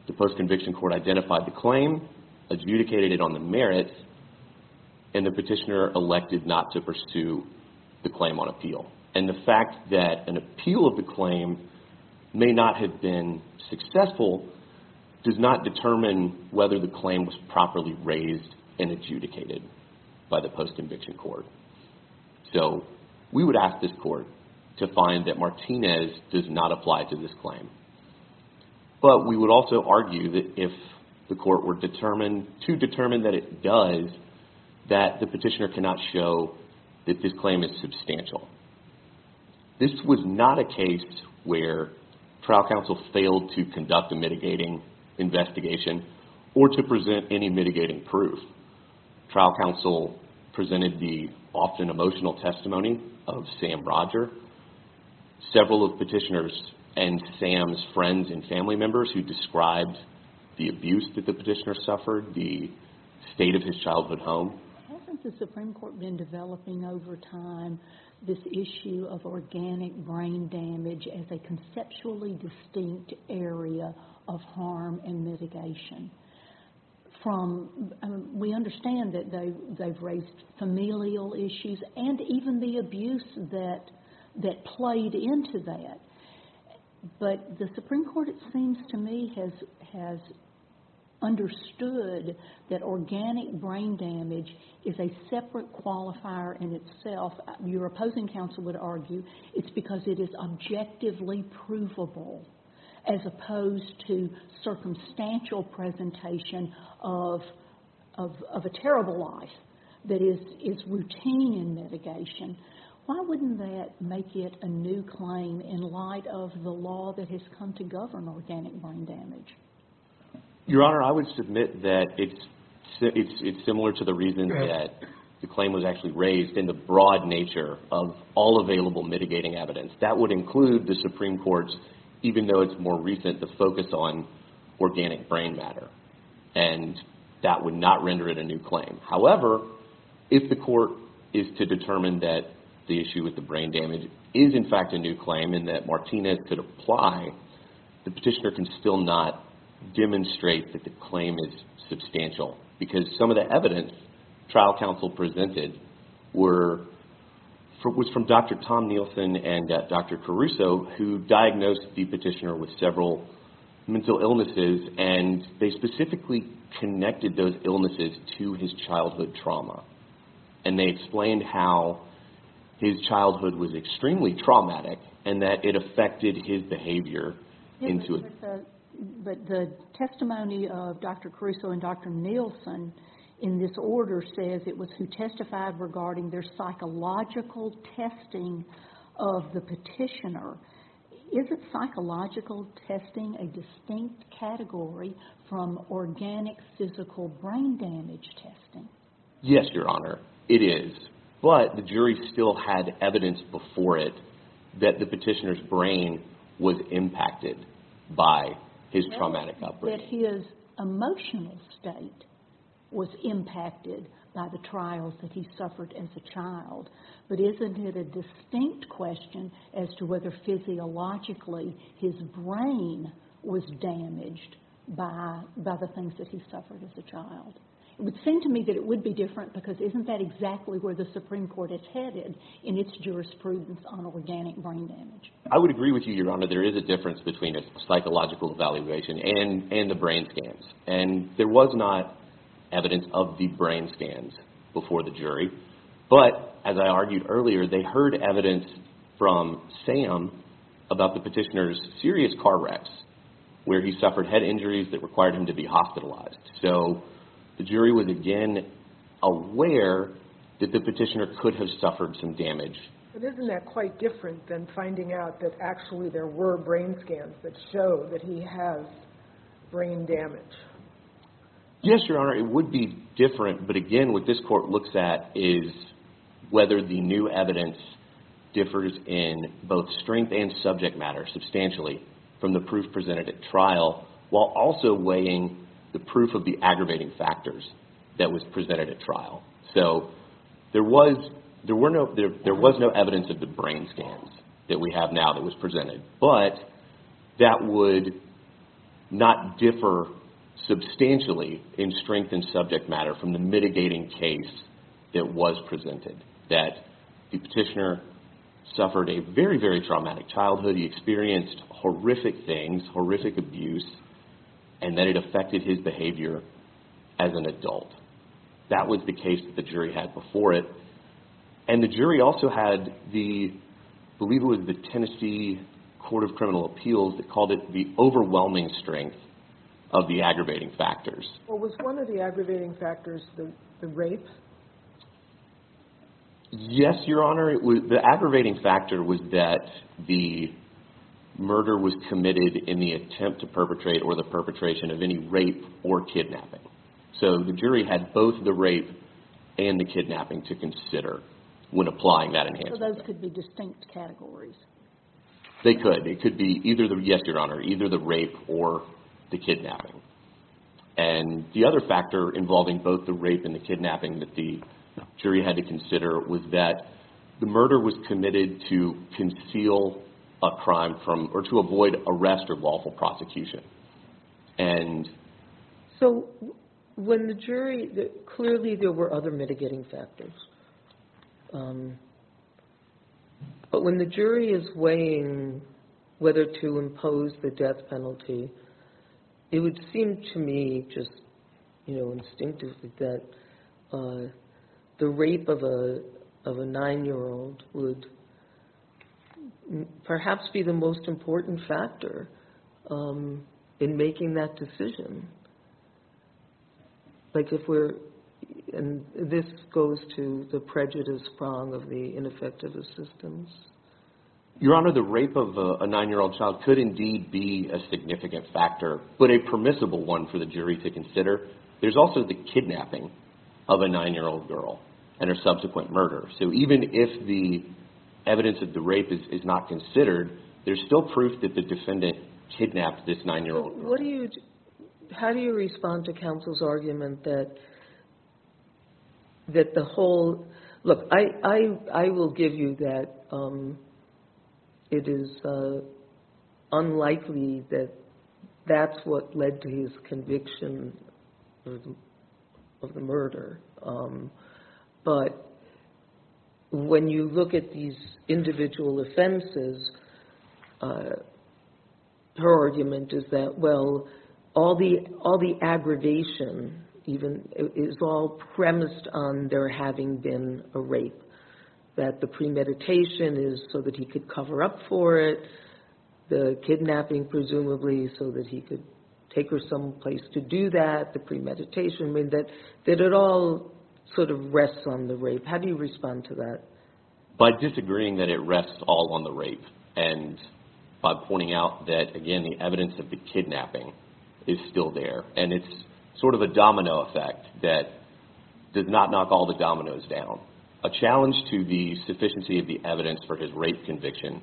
The post-conviction court identified the claim, adjudicated it on the merits, and the petitioner elected not to pursue the claim on appeal. And the fact that an appeal of the claim may not have been successful does not determine whether the claim was properly raised and adjudicated by the post-conviction court. So we would ask this court to find that Martinez does not apply to this claim. But we would also argue that if the court were determined, to determine that it does, that the petitioner cannot show that this claim is substantial. This was not a case where trial counsel failed to conduct a mitigating investigation or to present any mitigating proof. Trial counsel presented the often emotional testimony of Sam Roger. Several of petitioners and Sam's friends and family members who described the abuse that the petitioner suffered, the state of his childhood home. Hasn't the Supreme Court been developing over time this issue of organic brain damage as a conceptually distinct area of harm and mitigation? We understand that they've raised familial issues and even the abuse that played into that. But the Supreme Court, it seems to me, has understood that organic brain damage is a separate qualifier in itself. Your opposing counsel would argue it's because it is objectively provable as opposed to circumstantial presentation of a terrible life that is routine in mitigation. Why wouldn't that make it a new claim in light of the law that has come to govern organic brain damage? Your Honor, I would submit that it's similar to the reasons that the claim was actually raised in the broad nature of all available mitigating evidence. That would include the Supreme Court's, even though it's more recent, the focus on organic brain matter. And that would not render it a new claim. However, if the court is to determine that the issue with the brain damage is in fact a new claim and that Martinez could apply, the petitioner can still not demonstrate that the claim is substantial because some of the evidence trial counsel presented was from Dr. Tom Nielsen and Dr. Caruso who diagnosed the petitioner with several mental illnesses and they specifically connected those illnesses to his childhood trauma. And they explained how his childhood was extremely traumatic and that it affected his behavior. But the testimony of Dr. Caruso and Dr. Nielsen in this order says it was who testified regarding their psychological testing of the petitioner. Isn't psychological testing a distinct category from organic physical brain damage testing? Yes, Your Honor, it is. But the jury still had evidence before it that the petitioner's brain was impacted by his traumatic upbringing. His emotional state was impacted by the trials that he suffered as a child. But isn't it a distinct question as to whether physiologically his brain was damaged by the things that he suffered as a child? It would seem to me that it would be different because isn't that exactly where the Supreme Court is headed in its jurisprudence on organic brain damage? I would agree with you, Your Honor. There is a difference between a psychological evaluation and the brain scans. And there was not evidence of the brain scans before the jury. But, as I argued earlier, they heard evidence from Sam about the petitioner's serious car wrecks where he suffered head injuries that required him to be hospitalized. So, the jury was again aware that the petitioner could have suffered some damage. But isn't that quite different than finding out that actually there were brain scans that show that he has brain damage? Yes, Your Honor, it would be different. But again, what this court looks at is whether the new evidence differs in both strength and subject matter substantially from the proof presented at trial while also weighing the proof of the aggravating factors that was presented at trial. So, there was no evidence of the brain scans that we have now that was presented. But, that would not differ substantially in strength and subject matter from the mitigating case that was presented that the petitioner suffered a very, very traumatic childhood. So, he experienced horrific things, horrific abuse, and that it affected his behavior as an adult. That was the case that the jury had before it. And the jury also had the, I believe it was the Tennessee Court of Criminal Appeals that called it the overwhelming strength of the aggravating factors. Well, was one of the aggravating factors the rape? Yes, Your Honor, the aggravating factor was that the murder was committed in the attempt to perpetrate or the perpetration of any rape or kidnapping. So, the jury had both the rape and the kidnapping to consider when applying that enhancement. So, those could be distinct categories? They could. It could be either, yes, Your Honor, either the rape or the kidnapping. And the other factor involving both the rape and the kidnapping that the jury had to consider was that the murder was committed to conceal a crime from, or to avoid arrest or lawful prosecution. And... So, when the jury, clearly there were other mitigating factors. But when the jury is weighing whether to impose the death penalty, it would seem to me just instinctively that the rape of a nine-year-old would perhaps be the most important factor in making that decision. Like if we're... And this goes to the prejudice prong of the ineffective assistance. Your Honor, the rape of a nine-year-old child could indeed be a significant factor, but a permissible one for the jury to consider. There's also the kidnapping of a nine-year-old girl and her subsequent murder. So, even if the evidence of the rape is not considered, there's still proof that the defendant kidnapped this nine-year-old girl. How do you respond to counsel's argument that the whole... Look, I will give you that it is unlikely that that's what led to his conviction of the murder. But when you look at these individual offenses, her argument is that, well, all the aggravation is all premised on there having been a rape. That the premeditation is so that he could cover up for it, the kidnapping presumably so that he could take her someplace to do that, the premeditation, that it all sort of rests on the rape. How do you respond to that? By disagreeing that it rests all on the rape and by pointing out that, again, the evidence of the kidnapping is still there. And it's sort of a domino effect that does not knock all the dominoes down. A challenge to the sufficiency of the evidence for his rape conviction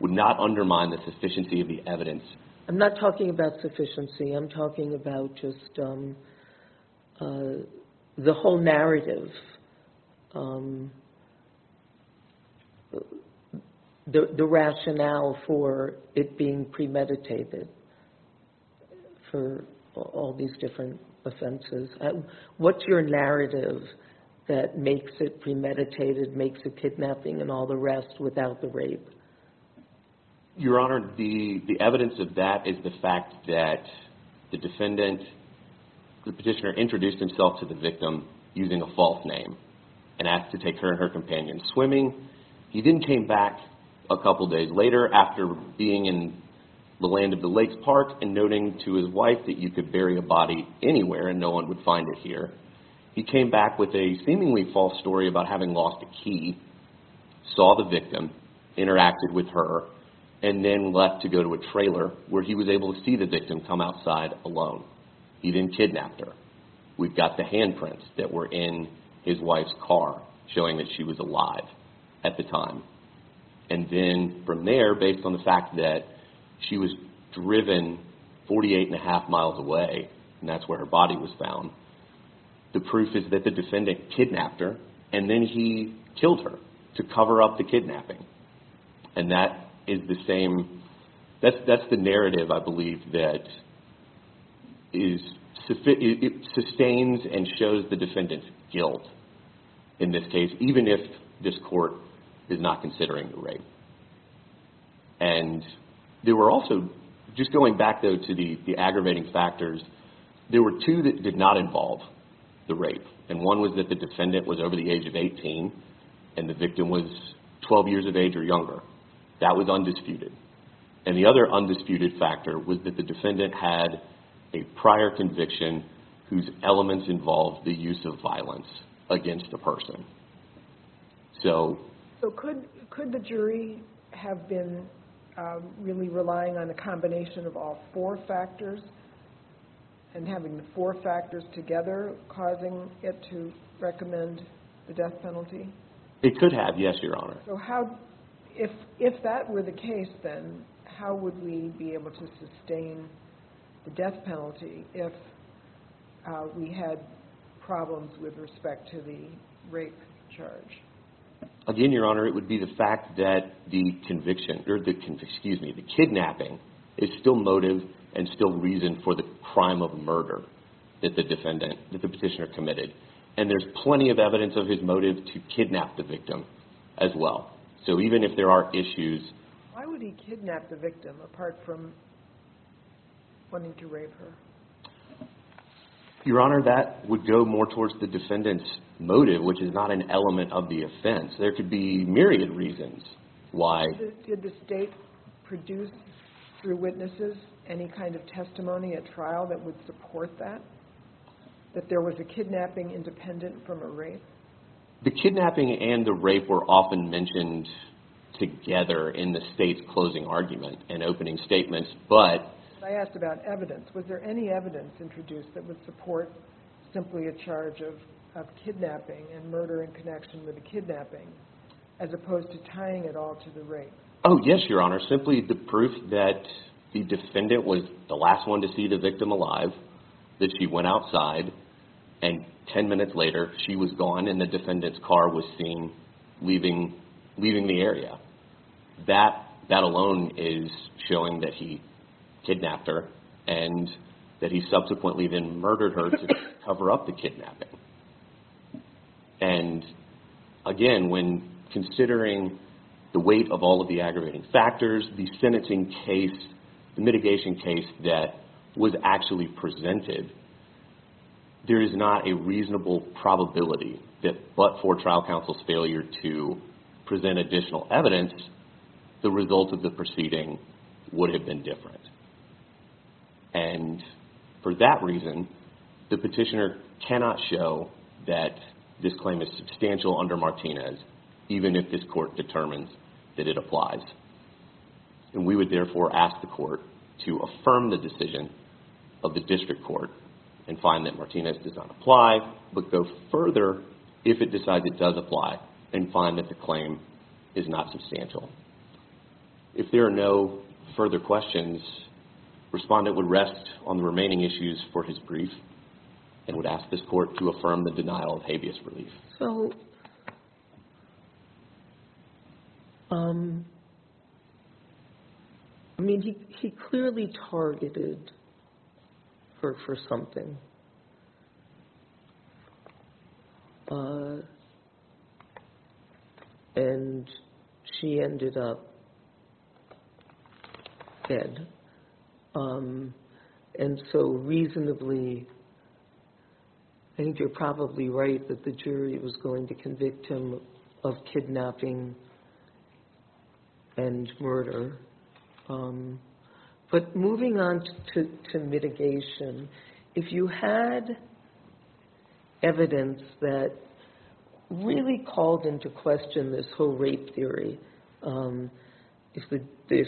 would not undermine the sufficiency of the evidence. I'm not talking about sufficiency. I'm talking about just the whole narrative, the rationale for it being premeditated for all these different offenses. What's your narrative that makes it premeditated, makes it kidnapping and all the rest without the rape? Your Honor, the evidence of that is the fact that the defendant, the petitioner introduced himself to the victim using a false name and asked to take her and her companion swimming. He then came back a couple days later after being in the land of the lakes park and noting to his wife that you could bury a body anywhere and no one would find it here. He came back with a seemingly false story about having lost a key, saw the victim, interacted with her and then left to go to a trailer where he was able to see the victim come outside alone. He didn't kidnap her. We've got the handprints that were in his wife's car showing that she was alive at the time. And then from there, based on the fact that she was driven 48 and a half miles away and that's where her body was found, the proof is that the defendant kidnapped her and then he killed her to cover up the kidnapping. And that is the same, that's the narrative I believe that is, sustains and shows the defendant's guilt in this case, even if this court is not considering the rape. And there were also, just going back though to the aggravating factors, there were two that did not involve the rape. And one was that the defendant was over the age of 18 and the victim was 12 years of age or younger. That was undisputed. And the other undisputed factor was that the defendant had a prior conviction whose elements involved the use of violence against the person. So could the jury have been really relying on a combination of all four factors and having the four factors together causing it to recommend the death penalty? It could have, yes, Your Honor. So how, if that were the case then, how would we be able to sustain the death penalty if we had problems with respect to the rape charge? Again, Your Honor, it would be the fact that the conviction, excuse me, the kidnapping is still motive and still reason for the crime of murder that the petitioner committed. And there's plenty of evidence of his motive to kidnap the victim as well. So even if there are issues. Why would he kidnap the victim apart from wanting to rape her? Your Honor, that would go more towards the defendant's motive which is not an element of the offense. There could be myriad reasons why. Did the state produce through witnesses any kind of testimony at trial that would support that, that there was a kidnapping independent from a rape? The kidnapping and the rape were often mentioned together in the state's closing argument and opening statements, but... I asked about evidence. Was there any evidence introduced that would support simply a charge of kidnapping and murder in connection with the kidnapping as opposed to tying it all to the rape? Oh, yes, Your Honor. Simply the proof that the defendant was the last one to see the victim alive, that she went outside, and ten minutes later she was gone and the defendant's car was seen leaving the area. That alone is showing that he kidnapped her and that he subsequently then murdered her to cover up the kidnapping. And again, when considering the weight of all of the aggravating factors, the sentencing case, the mitigation case that was actually presented, there is not a reasonable probability that but for trial counsel's failure to present additional evidence, the result of the proceeding would have been different. And for that reason, the petitioner cannot show that this claim is substantial under Martinez even if this court determines that it applies. And we would therefore ask the court to affirm the decision of the district court and find that Martinez does not apply, but go further if it decides it does apply and find that the claim is not substantial. If there are no further questions, respondent would rest on the remaining issues for his brief and would ask this court to affirm the denial of habeas relief. So, I mean, he clearly targeted her for something. And she ended up dead. And so, reasonably, I think you're probably right that the jury was going to convict him of kidnapping and murder. But moving on to mitigation, if you had evidence that really called into question this whole rape theory, if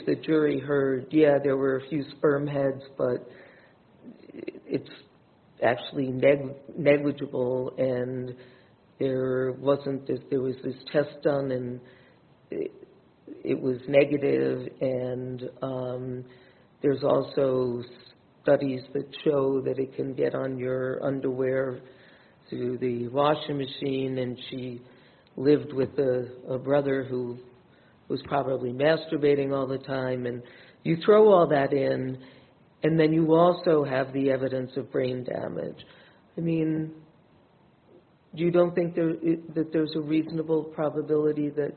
the jury heard, yeah, there were a few sperm heads, but it's actually negligible and there was this test done and it was negative and there's also studies that show that it can get on your underwear through the washing machine. And she lived with a brother who was probably masturbating all the time and you throw all that in and then you also have the evidence of brain damage. I mean, you don't think that there's a reasonable probability that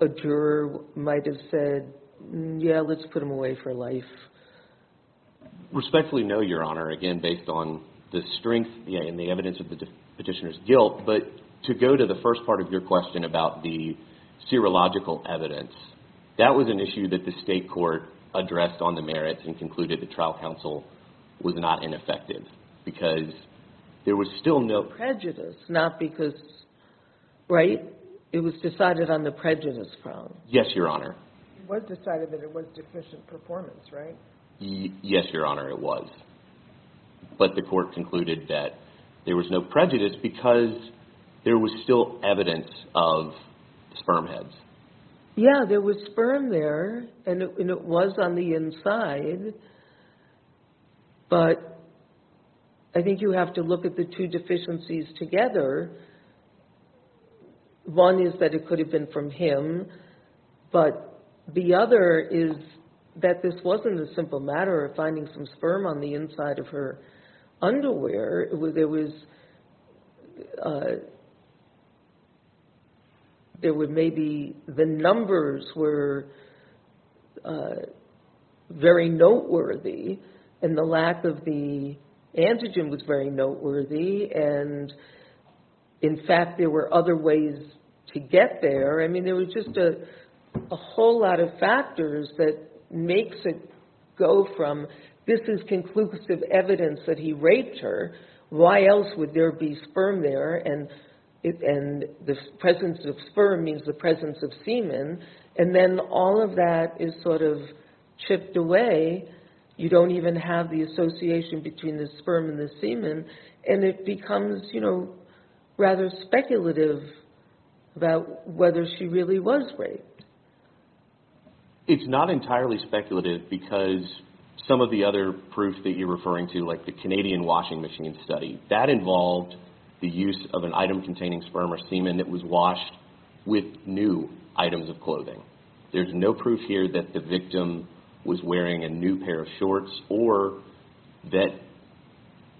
a juror might have said, yeah, let's put him away for life? Respectfully, no, Your Honor. Again, based on the strength and the evidence of the petitioner's guilt, but to go to the first part of your question about the serological evidence, that was an issue that the state court addressed on the merits and concluded the trial counsel was not ineffective because there was still no prejudice. Not because rape. It was decided on the prejudice grounds. Yes, Your Honor. It was decided that it was deficient performance, right? Yes, Your Honor, it was. But the court concluded that there was no prejudice because there was still evidence of sperm heads. Yeah, there was sperm there and it was on the inside, but I think you have to look at the two deficiencies together. One is that it could have been from him, but the other is that this wasn't a simple matter of finding some sperm on the inside of her underwear. There was maybe the numbers were very noteworthy and the lack of the antigen was very noteworthy and, in fact, there were other ways to get there. I mean, there was just a whole lot of factors that makes it go from this is conclusive evidence that he raped her, why else would there be sperm there, and the presence of sperm means the presence of semen, and then all of that is sort of chipped away. You don't even have the association between the sperm and the semen and it becomes, you know, rather speculative about whether she really was raped. It's not entirely speculative because some of the other proof that you're referring to, like the Canadian washing machine study, that involved the use of an item containing sperm or semen that was washed with new items of clothing. There's no proof here that the victim was wearing a new pair of shorts or that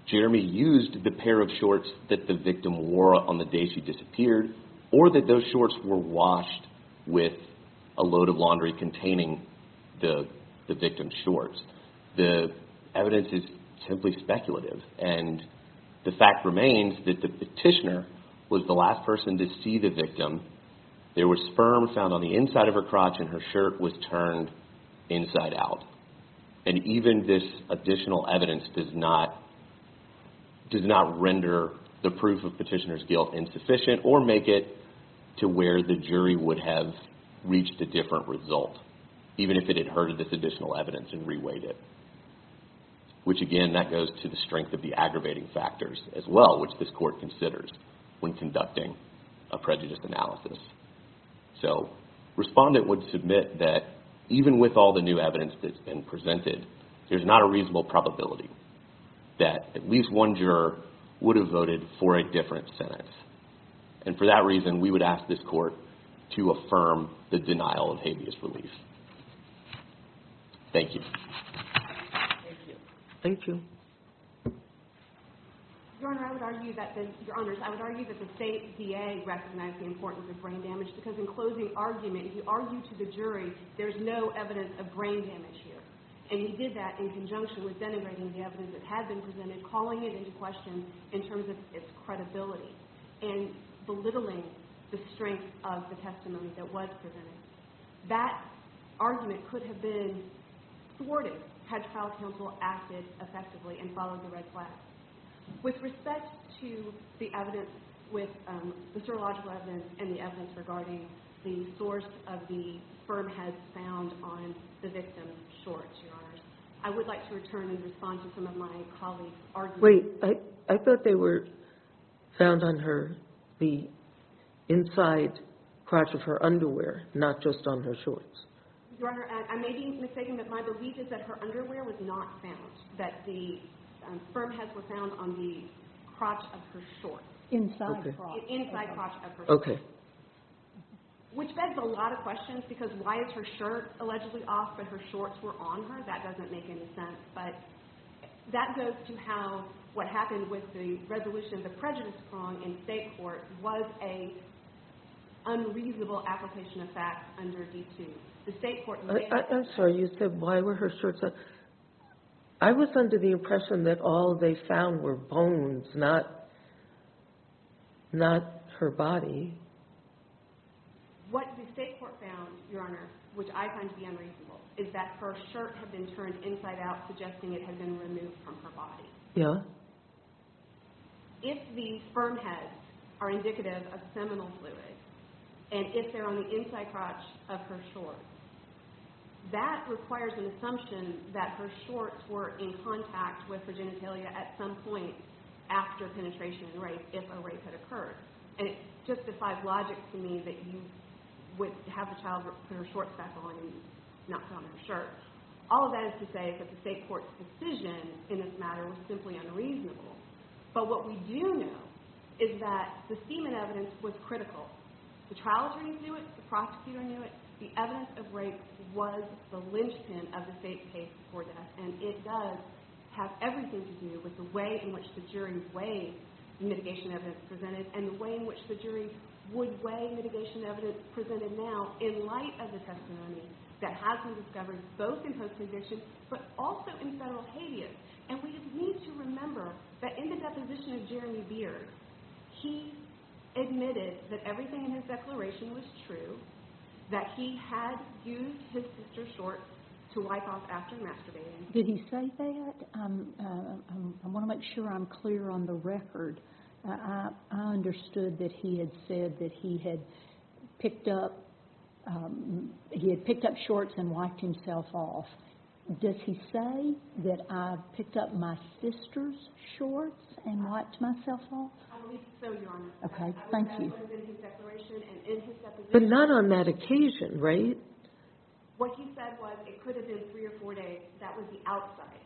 Jeremy used the pair of shorts that the victim wore on the day she disappeared, or that those shorts were washed with a load of laundry containing the victim's shorts. The evidence is simply speculative, and the fact remains that the petitioner was the last person to see the victim. There was sperm found on the inside of her crotch and her shirt was turned inside out, and even this additional evidence does not render the proof of petitioner's guilt insufficient or make it to where the jury would have reached a different result, even if it had heard of this additional evidence and reweighed it. Which again, that goes to the strength of the aggravating factors as well, which this court considers when conducting a prejudice analysis. So, respondent would submit that even with all the new evidence that's been presented, there's not a reasonable probability that at least one juror would have voted for a different sentence. And for that reason, we would ask this court to affirm the denial of habeas relief. Thank you. Thank you. Your Honor, I would argue that the State DA recognized the importance of brain damage because in closing argument, he argued to the jury there's no evidence of brain damage here. And he did that in conjunction with denigrating the evidence that had been presented, calling it into question in terms of its credibility and belittling the strength of the testimony that was presented. That argument could have been thwarted had trial counsel acted effectively and followed the red flag. With respect to the evidence with the serological evidence and the evidence regarding the source of the sperm heads found on the victim's shorts, Your Honor, I would like to return and respond to some of my colleagues' arguments. Wait, I thought they were found on the inside crotch of her underwear, not just on her shorts. Your Honor, I may be mistaken, but my belief is that her underwear was not found, that the sperm heads were found on the crotch of her shorts. Inside crotch. Inside crotch of her shorts. Which begs a lot of questions because why is her shirt allegedly off but her shorts were on her? That doesn't make any sense, but that goes to how what happened with the resolution of the prejudice prong in state court was an unreasonable application of facts under D2. I'm sorry, you said why were her shorts on? I was under the impression that all they found were bones, not her body. What the state court found, Your Honor, which I find to be unreasonable, is that her shirt had been turned inside out suggesting it had been removed from her body. Yeah. If the sperm heads are indicative of seminal fluid and if they're on the inside crotch of her shorts, that requires an assumption that her shorts were in contact with her genitalia at some point after penetration and rape if a rape had occurred. And it justifies logic to me that you would have the child put her shorts back on and not put on her shirt. All of that is to say that the state court's decision in this matter was simply unreasonable. But what we do know is that the semen evidence was critical. The trial attorneys knew it, the prosecutor knew it, the evidence of rape was the linchpin of the state's case for that. And it does have everything to do with the way in which the jury weighed the mitigation evidence presented and the way in which the jury would weigh mitigation evidence presented now in light of the testimony that has been discovered both in her condition but also in federal habeas. And we need to remember that in the deposition of Jeremy Beard, he admitted that everything in his declaration was true, that he had used his sister's shorts to wipe off after masturbating. Did he say that? I want to make sure I'm clear on the record. I understood that he had said that he had picked up shorts and wiped himself off. Does he say that I picked up my sister's shorts and wiped myself off? I will be so honest. Okay, thank you. But not on that occasion, right? What he said was it could have been three or four days. That was the outside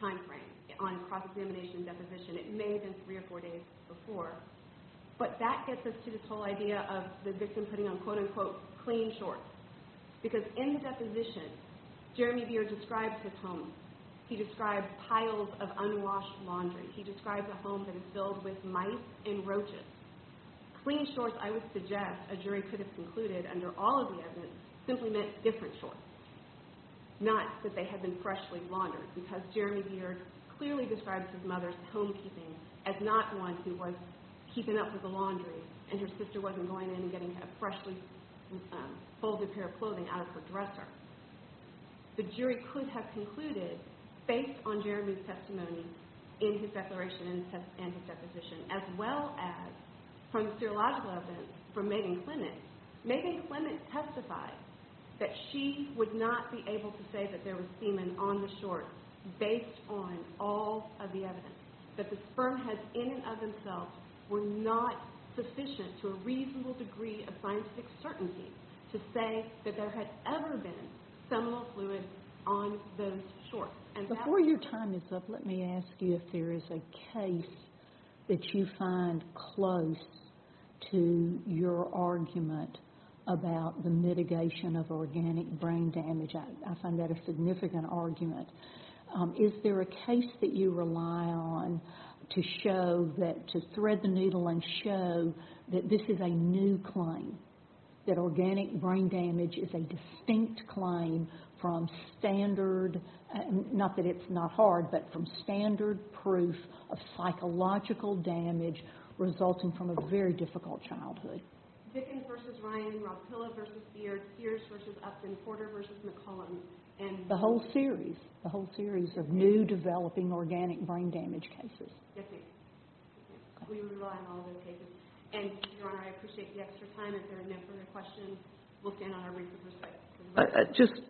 time frame on cross-examination deposition. It may have been three or four days before. But that gets us to this whole idea of the victim putting on quote-unquote clean shorts because in the deposition, Jeremy Beard describes his home. He describes piles of unwashed laundry. He describes a home that is filled with mice and roaches. Clean shorts, I would suggest a jury could have concluded, under all of the evidence, simply meant different shorts, not that they had been freshly laundered because Jeremy Beard clearly describes his mother's home keeping as not one who was keeping up with the laundry and her sister wasn't going in and getting a freshly folded pair of clothing out of her dresser. The jury could have concluded, based on Jeremy's testimony in his declaration and his deposition, as well as from the serological evidence from Megan Clement, Megan Clement testified that she would not be able to say that there was semen on the shorts based on all of the evidence, that the spermheads in and of themselves were not sufficient to a reasonable degree of scientific certainty to say that there had ever been seminal fluid on those shorts. Before your time is up, let me ask you if there is a case that you find close to your argument about the mitigation of organic brain damage. I find that a significant argument. Is there a case that you rely on to show that, to thread the needle and show that this is a new claim, that organic brain damage is a distinct claim from standard, not that it's not hard, but from standard proof of psychological damage resulting from a very difficult childhood? Vickens v. Ryan, Roppilla v. Beard, Sears v. Upton, Porter v. McCollum. The whole series, the whole series of new developing organic brain damage cases. Yes, we rely on all of those cases. Your Honor, I appreciate the extra time. If there are no further questions, we'll stand on our wreaths of respect. Just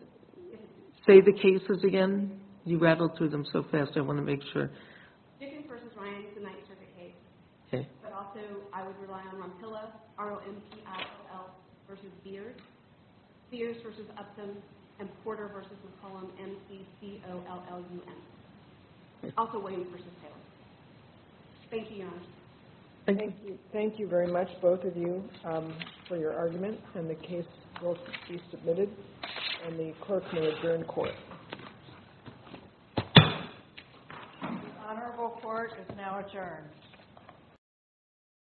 say the cases again. You rattled through them so fast. I want to make sure. Vickens v. Ryan is the ninth circuit case. But also, I would rely on Roppilla, R-O-M-P-I-O-L v. Beard, Sears v. Upton, and Porter v. McCollum, M-C-C-O-L-L-U-N. Also, Williams v. Taylor. Thank you, Your Honor. Thank you very much, both of you. Thank you for your argument. The case will be submitted, and the clerk may adjourn court. The honorable court is now adjourned.